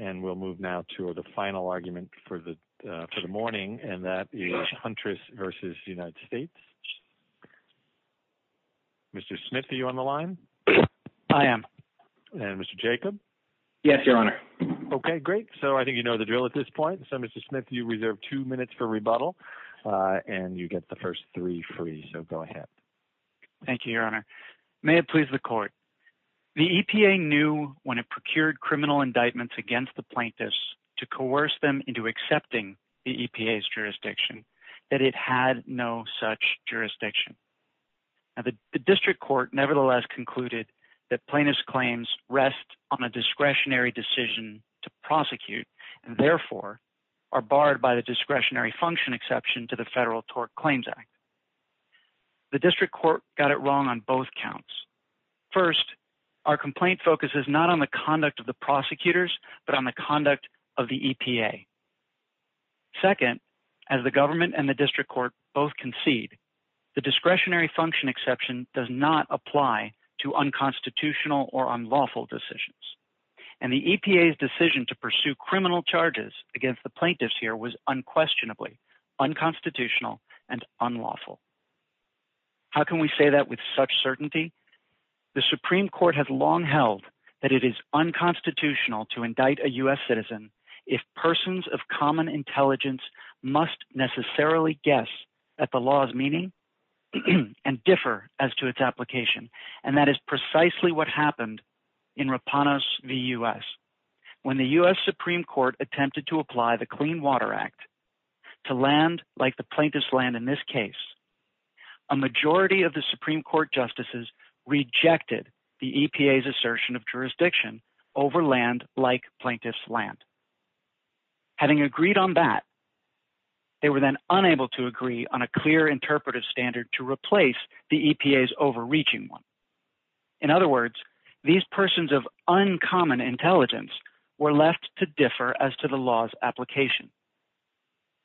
and we'll move now to the final argument for the morning and that is Huntress v. United States. Mr. Smith, are you on the line? I am. And Mr. Jacob? Yes, Your Honor. Okay, great. So I think you know the drill at this point. So Mr. Smith, you reserve two minutes for rebuttal and you get the first three free, so go ahead. Thank you, Your Honor. May it indictments against the plaintiffs to coerce them into accepting the EPA's jurisdiction that it had no such jurisdiction. Now, the district court nevertheless concluded that plaintiff's claims rest on a discretionary decision to prosecute and therefore are barred by the discretionary function exception to the Federal Tort Claims Act. The district court got it wrong on both counts. First, our complaint focuses not on the conduct of the prosecutors, but on the conduct of the EPA. Second, as the government and the district court both concede, the discretionary function exception does not apply to unconstitutional or unlawful decisions. And the EPA's decision to pursue criminal charges against the plaintiffs was unquestionably unconstitutional and unlawful. How can we say that with such certainty? The Supreme Court has long held that it is unconstitutional to indict a U.S. citizen if persons of common intelligence must necessarily guess at the law's meaning and differ as to its application. And that is precisely what happened in Rapanos v. U.S. when the U.S. Supreme Court attempted to apply the Clean Water Act to land like the plaintiff's land in this case, a majority of the Supreme Court justices rejected the EPA's assertion of jurisdiction over land like plaintiff's land. Having agreed on that, they were then unable to agree on a clear interpretive standard to replace the EPA's overreaching one. In other words, these persons of uncommon intelligence were left to their own justification.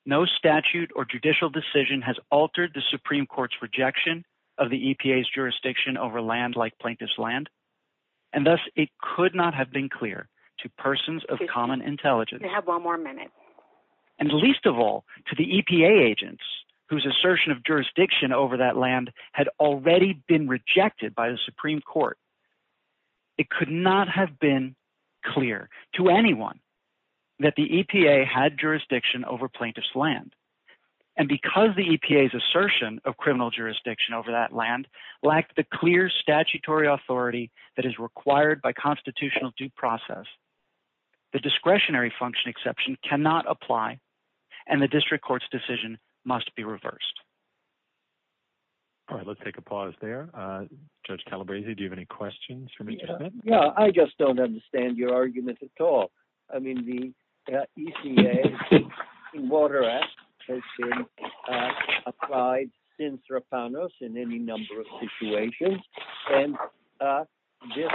No statute or judicial decision has altered the Supreme Court's rejection of the EPA's jurisdiction over land like plaintiff's land. And thus, it could not have been clear to persons of common intelligence. And least of all, to the EPA agents whose assertion of jurisdiction over that land had already been rejected by the Supreme Court. It could not have been clear to anyone that the EPA had jurisdiction over plaintiff's land. And because the EPA's assertion of criminal jurisdiction over that land lacked the clear statutory authority that is required by constitutional due process, the discretionary function exception cannot apply and the district court's decision must be reversed. All right, let's take a pause there. Judge Calabresi, do you have questions? Yeah, I just don't understand your argument at all. I mean, the EPA Water Act has been applied since Rapanos in any number of situations. And this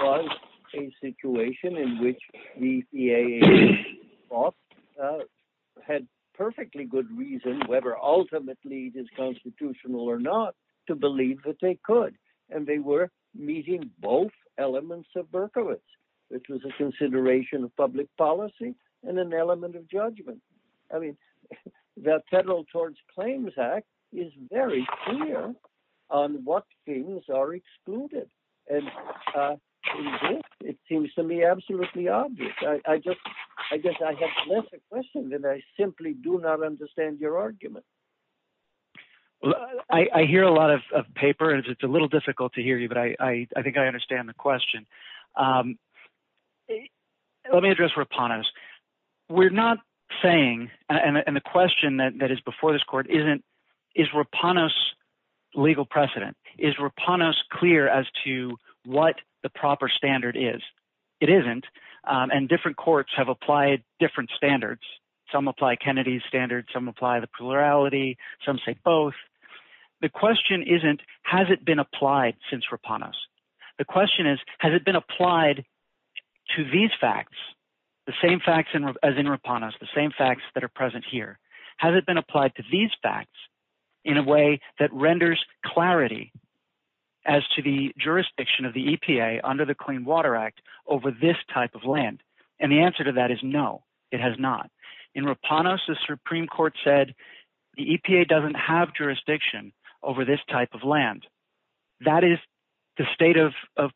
was a situation in which the EAA had perfectly good reason, whether ultimately it is constitutional or not, to believe that they could. And they were meeting both elements of Berkowitz, which was a consideration of public policy and an element of judgment. I mean, the Federal Towards Claims Act is very clear on what things are excluded. And it seems to me absolutely obvious. I just, I guess I have less a question than I simply do not understand your argument. Well, I hear a lot of paper and it's a little difficult to hear you, but I think I understand the question. Let me address Rapanos. We're not saying, and the question that is before this court isn't, is Rapanos legal precedent? Is Rapanos clear as to what the proper standard is? It isn't. And different courts have applied different standards. Some apply Kennedy's standards, some apply the plurality, some say both. The question isn't, has it been applied since Rapanos? The question is, has it been applied to these facts, the same facts as in Rapanos, the same facts that are present here? Has it been applied to these facts in a way that renders clarity as to the jurisdiction of the EPA under the Clean Water Act over this type of land? And the answer to that is no, it has not. In Rapanos, the Supreme Court said the EPA doesn't have jurisdiction over this type of land. That is the state of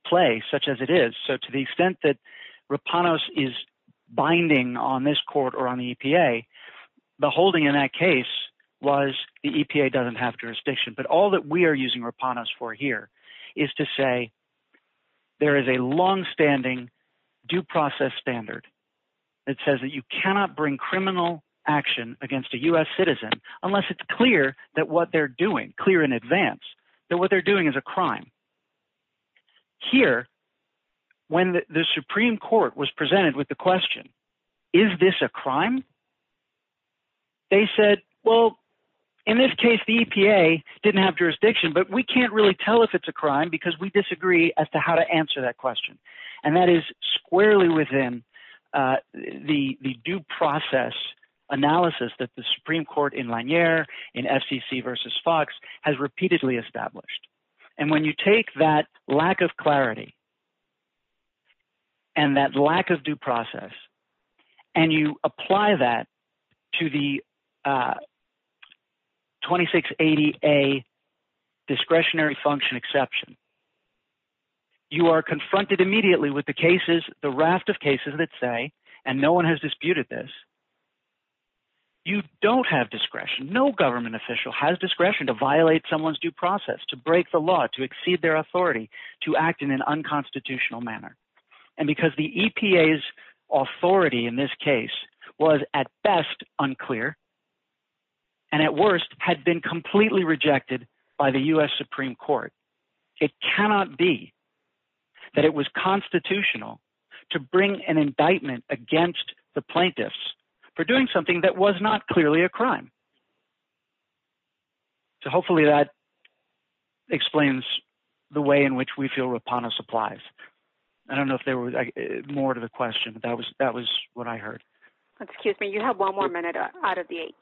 play, such as it is. So to the extent that Rapanos is binding on this court or on the EPA, the holding in that case was the EPA doesn't have jurisdiction. But all that we are using Rapanos for here is to say there is a longstanding due process standard that says that you cannot bring criminal action against a U.S. citizen unless it's clear that what they're doing, clear in advance, that what they're doing is a crime. Here, when the Supreme Court was presented with the question, is this a crime? They said, well, in this case the EPA didn't have jurisdiction, but we can't really tell if it's a crime. That is squarely within the due process analysis that the Supreme Court in Lanier, in FCC versus Fox, has repeatedly established. And when you take that lack of clarity and that lack of due process, and you apply that to the raft of cases that say, and no one has disputed this, you don't have discretion. No government official has discretion to violate someone's due process, to break the law, to exceed their authority, to act in an unconstitutional manner. And because the EPA's authority in this case was at best unclear and at worst had been completely rejected by the U.S. Supreme Court, it cannot be that it was constitutional to bring an indictment against the plaintiffs for doing something that was not clearly a crime. So hopefully that explains the way in which we feel Rapano applies. I don't know if there was more to the question, but that was what I heard. Excuse me, you have one more minute out of the eight.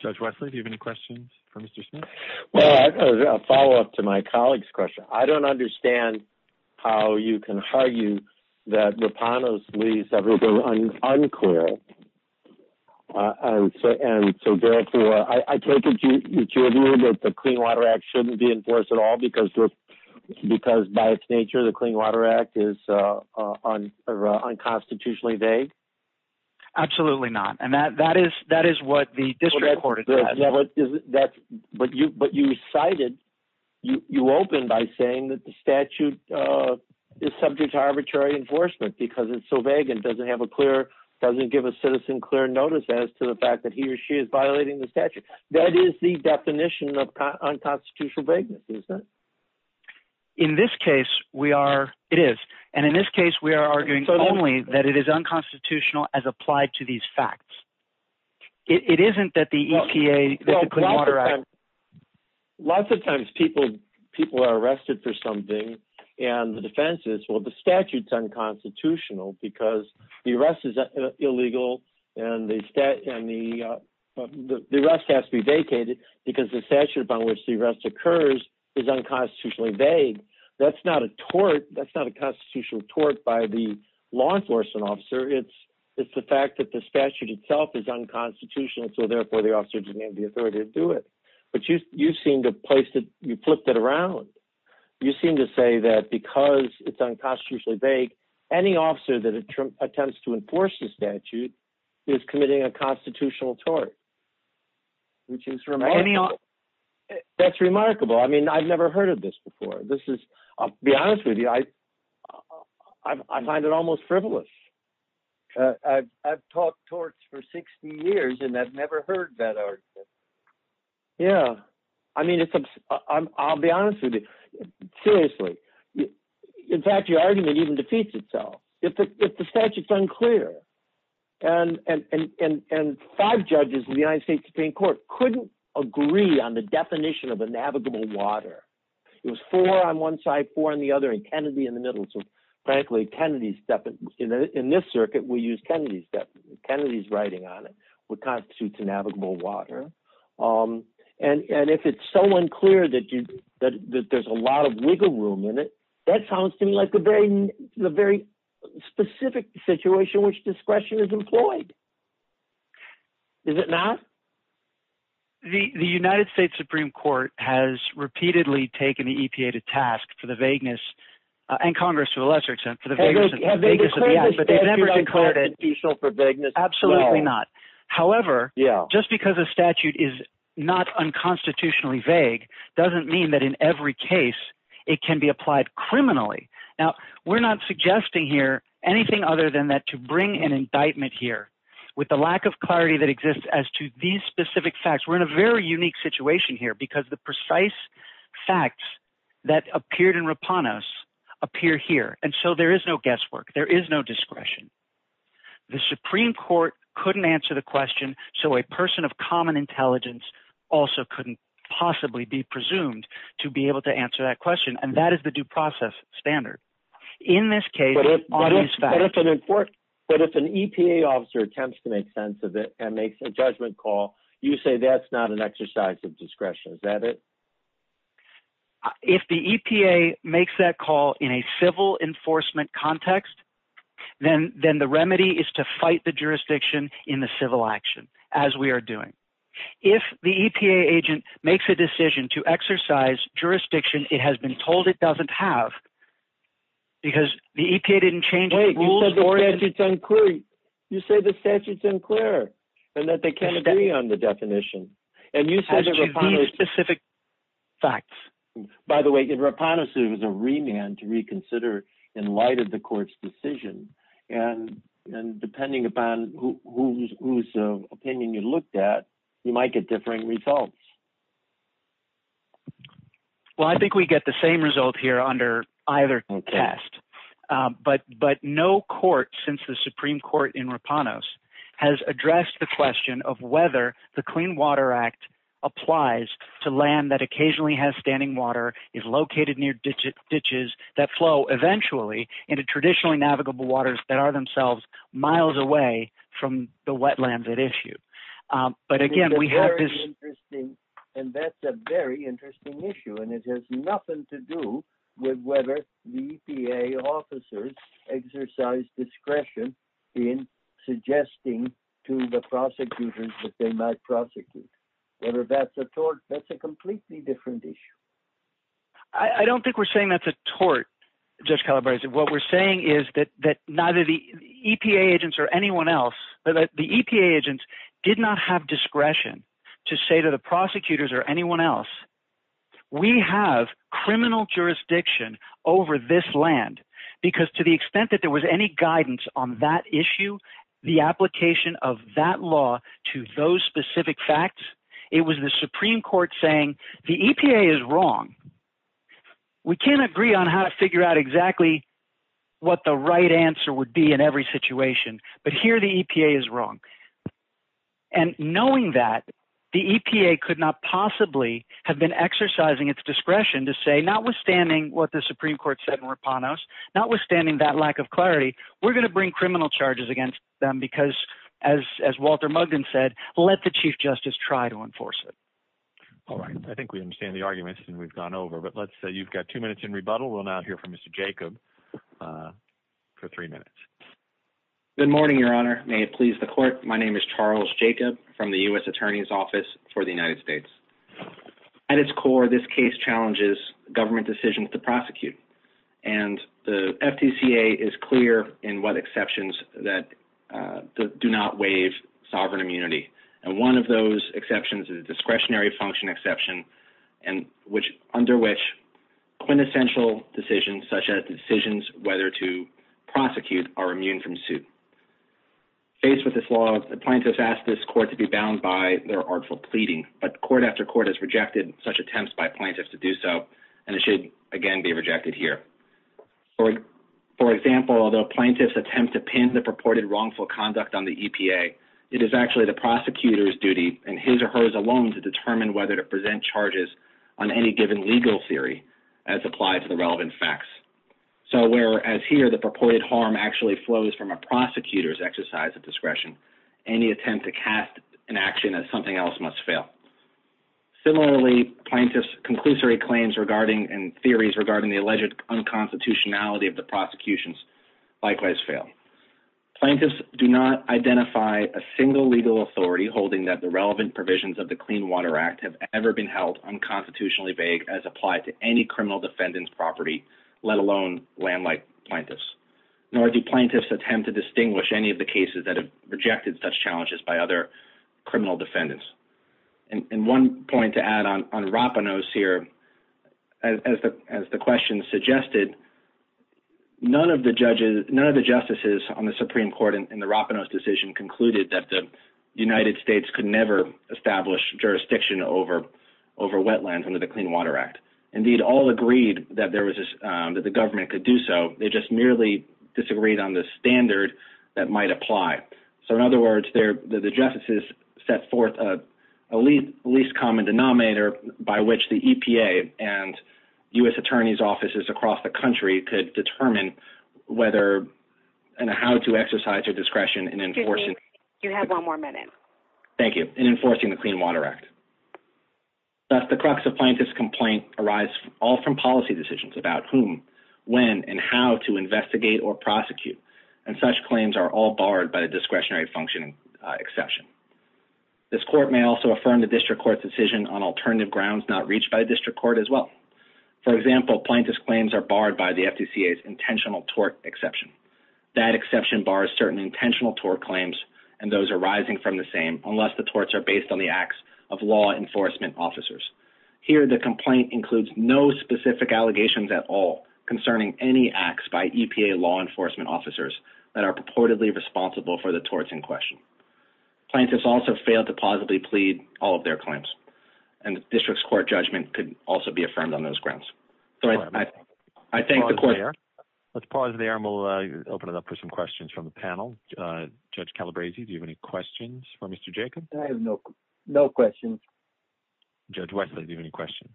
Judge Wesley, do you have any questions for Mr. Smith? Well, a follow-up to my colleague's question. I don't understand how you can argue that Rapano's plea is unclear. I take it that the Clean Water Act shouldn't be enforced at all because by its nature, the Clean Water Act is unconstitutionally vague? Absolutely not. And that is what the district court has. But you cited, you opened by saying that the statute is subject to arbitrary enforcement because it's so vague and doesn't have a clear, doesn't give a citizen clear notice as to the fact that he or she is violating the statute. That is the definition of unconstitutional vagueness, isn't it? In this case, it is. And in this case, we are arguing only that it is unconstitutional as applied to these facts. It isn't that the EPA, the Clean Water Act... Well, lots of times people are arrested for something and the defense is, well, the statute's unconstitutional because the arrest is illegal and the arrest has to be vacated because the statute upon which the arrest occurs is unconstitutionally vague. That's not a tort, by the law enforcement officer. It's the fact that the statute itself is unconstitutional, so therefore the officer didn't have the authority to do it. But you flipped it around. You seem to say that because it's unconstitutionally vague, any officer that attempts to enforce the statute is committing a constitutional tort, which is remarkable. That's remarkable. I mean, I've never heard of this before. I'll be honest with you. I find it almost frivolous. I've taught torts for 60 years and I've never heard that argument. Yeah. I mean, I'll be honest with you. Seriously. In fact, your argument even defeats itself. If the statute's unclear and five judges in the United States Supreme Court couldn't agree on the definition of a navigable water, it was four on one side, four on the other, and Kennedy in the middle. So frankly, in this circuit, we use Kennedy's writing on it, what constitutes a navigable water. And if it's so unclear that there's a lot of wiggle room in it, that sounds to me like a very specific situation in which discretion is employed. Is it not? The United States Supreme Court has repeatedly taken the EPA to task for the vagueness and Congress, to a lesser extent, for the vagueness of the act, but they've never declared it. Absolutely not. However, just because a statute is not unconstitutionally vague doesn't mean that in every case it can be applied criminally. Now, we're not suggesting here anything other than that to bring an indictment here with the lack of clarity that exists as to these specific facts. We're in a very unique situation here because the precise facts that appeared in Rapanos appear here. And so there is no guesswork. There is no discretion. The Supreme Court couldn't answer the question. So a person of common intelligence also couldn't possibly be presumed to be able to answer that question. And that is the due process standard in this case. But if an EPA officer attempts to make sense of it and makes a judgment call, you say that's not an exercise of discretion. Is that it? If the EPA makes that call in a civil enforcement context, then the remedy is to fight the jurisdiction in the civil action, as we are doing. If the EPA agent makes a decision to exercise jurisdiction it has been told it doesn't have because the EPA didn't change the rules. You say the statute's unclear and that they can't agree on the definition. By the way, Rapanos is a remand to reconsider in light of the court's decision. And depending upon whose opinion you looked at, you might get differing results. Well, I think we get the same result here under either test. But no court since the Supreme Court in Rapanos has addressed the question of whether the Clean Water Act applies to land that occasionally has standing water, is located near ditches that flow eventually into traditionally navigable waters that are themselves miles away from the wetlands at issue. But again, we have this... And that's a very interesting issue. And it has nothing to do with whether the EPA officers exercise discretion in suggesting to the prosecutors that they might prosecute. Whether that's a tort, that's a completely different issue. I don't think we're saying that's a tort, Judge Calabresi. What we're saying is that neither the not have discretion to say to the prosecutors or anyone else, we have criminal jurisdiction over this land. Because to the extent that there was any guidance on that issue, the application of that law to those specific facts, it was the Supreme Court saying the EPA is wrong. We can't agree on how to figure out exactly what the right answer would be every situation, but here the EPA is wrong. And knowing that, the EPA could not possibly have been exercising its discretion to say, notwithstanding what the Supreme Court said in Rapanos, notwithstanding that lack of clarity, we're going to bring criminal charges against them because as Walter Mugden said, let the Chief Justice try to enforce it. All right. I think we understand the arguments and we've gone over. But let's say you've got two minutes in rebuttal. We'll now hear from Mr. Jacob for three minutes. Good morning, Your Honor. May it please the court. My name is Charles Jacob from the U.S. Attorney's Office for the United States. At its core, this case challenges government decisions to prosecute. And the FTCA is clear in what exceptions that do not waive sovereign immunity. And one of those exceptions is a discretionary function exception, under which quintessential decisions, such as decisions whether to prosecute, are immune from suit. Faced with this law, the plaintiffs ask this court to be bound by their artful pleading, but court after court has rejected such attempts by plaintiffs to do so. And it should, again, be rejected here. For example, although plaintiffs attempt to pin the purported wrongful conduct on the EPA, it is actually the prosecutor's duty, and his or hers alone, to determine whether to present charges on any given legal theory as applied to the relevant facts. So whereas here the purported harm actually flows from a prosecutor's exercise of discretion, any attempt to cast an action as something else must fail. Similarly, plaintiffs' conclusory claims regarding and theories regarding the alleged unconstitutionality of the prosecutions likewise fail. Plaintiffs do not identify a single legal authority holding that the relevant provisions of the Clean Water Act have ever been held unconstitutionally vague as applied to any criminal defendant's property, let alone land-like plaintiffs. Nor do plaintiffs attempt to distinguish any of the cases that have rejected such challenges by other criminal defendants. And one point to add on Ropinos here, as the question suggested, none of the justices on the Supreme Court in the Ropinos decision concluded that the United States could never establish jurisdiction over wetlands under the Clean Water Act. Indeed, all agreed that the government could do so. They just merely disagreed on the standard that might apply. So, in other words, the justices set forth a least common denominator by which the EPA and U.S. attorneys' offices across the country could determine whether and how to exercise their discretion in enforcing the Clean Water Act. Thus, the crux of plaintiffs' complaints arise all from policy decisions about whom, when, and how to investigate or prosecute. And such claims are all barred by a discretionary functioning exception. This court may also affirm the district court's decision on alternative grounds not reached by the district court as well. For example, plaintiffs' claims are barred by the FDCA's intentional tort exception. That exception bars certain intentional tort claims and those arising from the same unless the torts are based on the acts of law enforcement officers. Here, the complaint includes no specific allegations at all concerning any acts by EPA law enforcement officers that are purportedly responsible for the torts in question. Plaintiffs also failed to positively plead all of their claims. And the district's court judgment could also be affirmed on those grounds. So, I thank the court. Let's pause there and we'll open it up for some questions from the panel. Judge Calabresi, do you have any questions for Mr. Jacob? I have no questions. Judge Wesley, do you have any questions?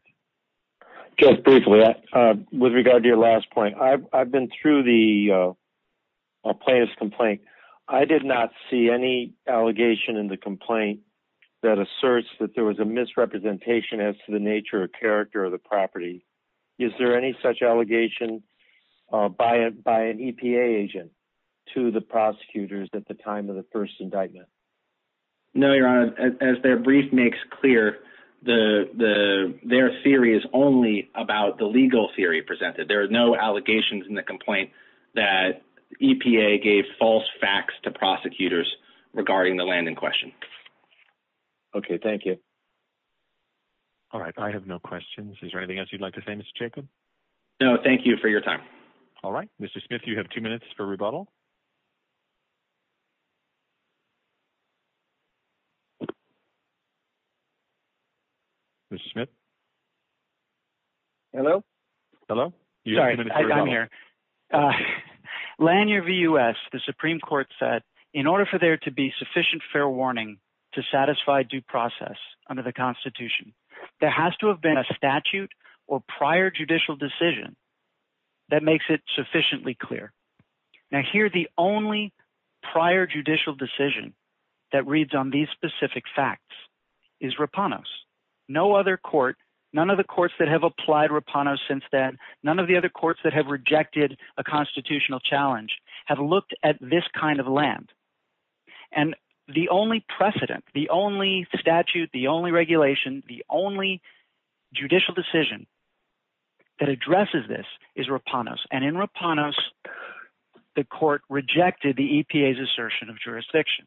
Just briefly, with regard to your last point, I've been through the plaintiff's complaint. I did not see any allegation in the complaint that asserts that there was a misrepresentation as to the nature or character of the property. Is there any such allegation by an EPA agent to the prosecutors at the time of the first indictment? No, Your Honor. As their brief makes clear, their theory is only about the legal theory presented. There are no allegations in the complaint that EPA gave false facts to prosecutors regarding the land in question. Okay, thank you. All right, I have no questions. Is there anything else you'd like to say, Mr. Jacob? No, thank you for your time. All right, Mr. Smith, you have two minutes. Mr. Smith? Hello? Hello? Sorry, I'm here. Lanier v. U.S., the Supreme Court said, in order for there to be sufficient fair warning to satisfy due process under the Constitution, there has to have been a statute or prior judicial decision that makes it sufficiently clear. Now, the only prior judicial decision that reads on these specific facts is Rapanos. No other court, none of the courts that have applied Rapanos since then, none of the other courts that have rejected a constitutional challenge, have looked at this kind of land. And the only precedent, the only statute, the only regulation, the only judicial decision that addresses this is Rapanos. And in Rapanos, the court rejected the EPA's assertion of jurisdiction.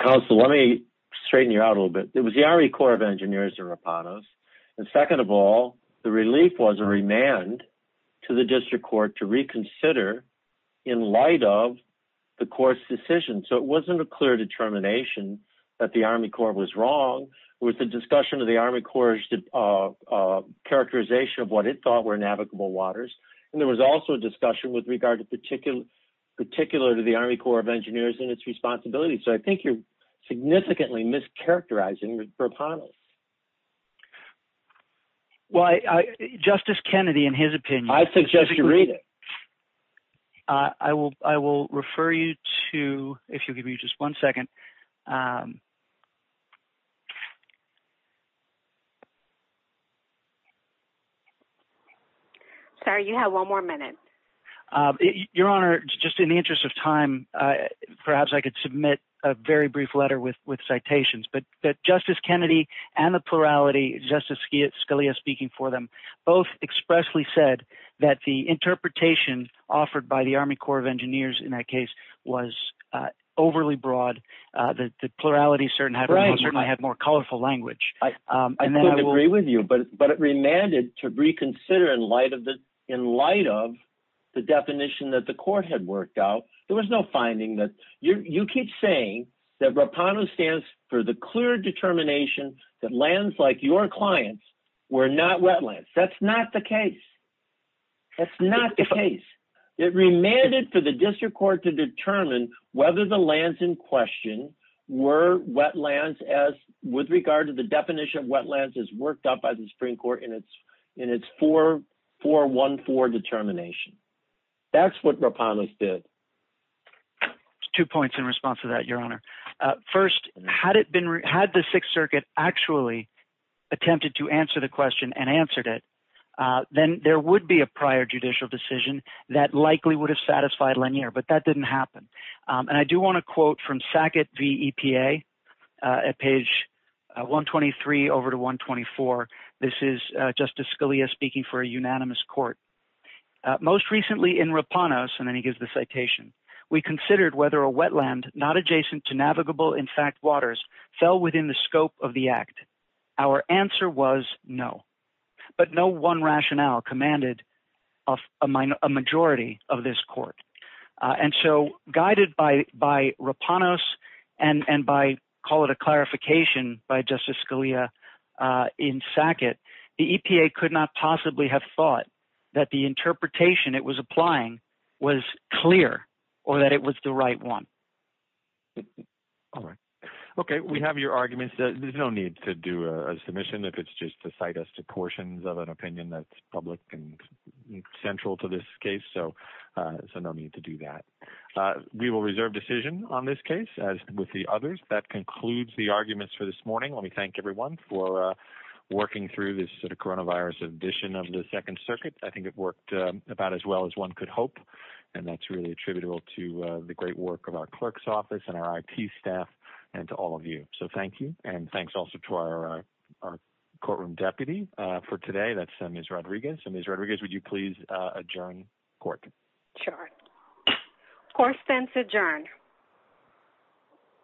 Counsel, let me straighten you out a little bit. It was the Army Corps of Engineers in Rapanos. And second of all, the relief was a remand to the district court to reconsider in light of the court's decision. So it wasn't a clear determination that the Army Corps was wrong. With the discussion of the Army Corps' characterization of what it thought were navigable waters. And there was also a discussion with regard to particular to the Army Corps of Engineers and its responsibilities. So I think you're significantly mischaracterizing Rapanos. Well, Justice Kennedy, in his opinion... I suggest you read it. I will refer you to, if you'll give me just one second. Sorry, you have one more minute. Your Honor, just in the interest of time, perhaps I could submit a very brief letter with citations. But Justice Kennedy and the plurality, Justice Scalia speaking for them, both expressly said that the interpretation offered by the Army Corps of Engineers in that case was overly broad. The plurality certainly had more color to it. I couldn't agree with you, but it remanded to reconsider in light of the definition that the court had worked out. There was no finding that... You keep saying that Rapanos stands for the clear determination that lands like your clients were not wetlands. That's not the case. That's not the case. It remanded for the district court to determine whether the lands in question were wetlands with regard to the definition of wetlands as worked up by the Supreme Court in its 414 determination. That's what Rapanos did. Two points in response to that, Your Honor. First, had the Sixth Circuit actually attempted to answer the question and answered it, then there would be a prior judicial decision that likely would have satisfied Lanier, but that didn't happen. I do want to quote from Sackett v. EPA at page 123 over to 124. This is Justice Scalia speaking for a unanimous court. Most recently in Rapanos, and then he gives the citation, we considered whether a wetland not adjacent to navigable, in fact, waters fell within the scope of the act. Our answer was no. But no rationale commanded a majority of this court. Guided by Rapanos and by, call it a clarification by Justice Scalia in Sackett, the EPA could not possibly have thought that the interpretation it was applying was clear or that it was the right one. All right. Okay. We have your arguments. There's no need to do a submission if it's just to cite us to portions of an opinion that's public and central to this case, so no need to do that. We will reserve decision on this case as with the others. That concludes the arguments for this morning. Let me thank everyone for working through this sort of coronavirus edition of the Second Circuit. I think it worked about as well as one could hope, and that's really attributable to the great work of our clerk's office and our T staff and to all of you. So thank you, and thanks also to our courtroom deputy for today, that's Ms. Rodriguez. Ms. Rodriguez, would you please adjourn court? Sure. Court spends adjourned.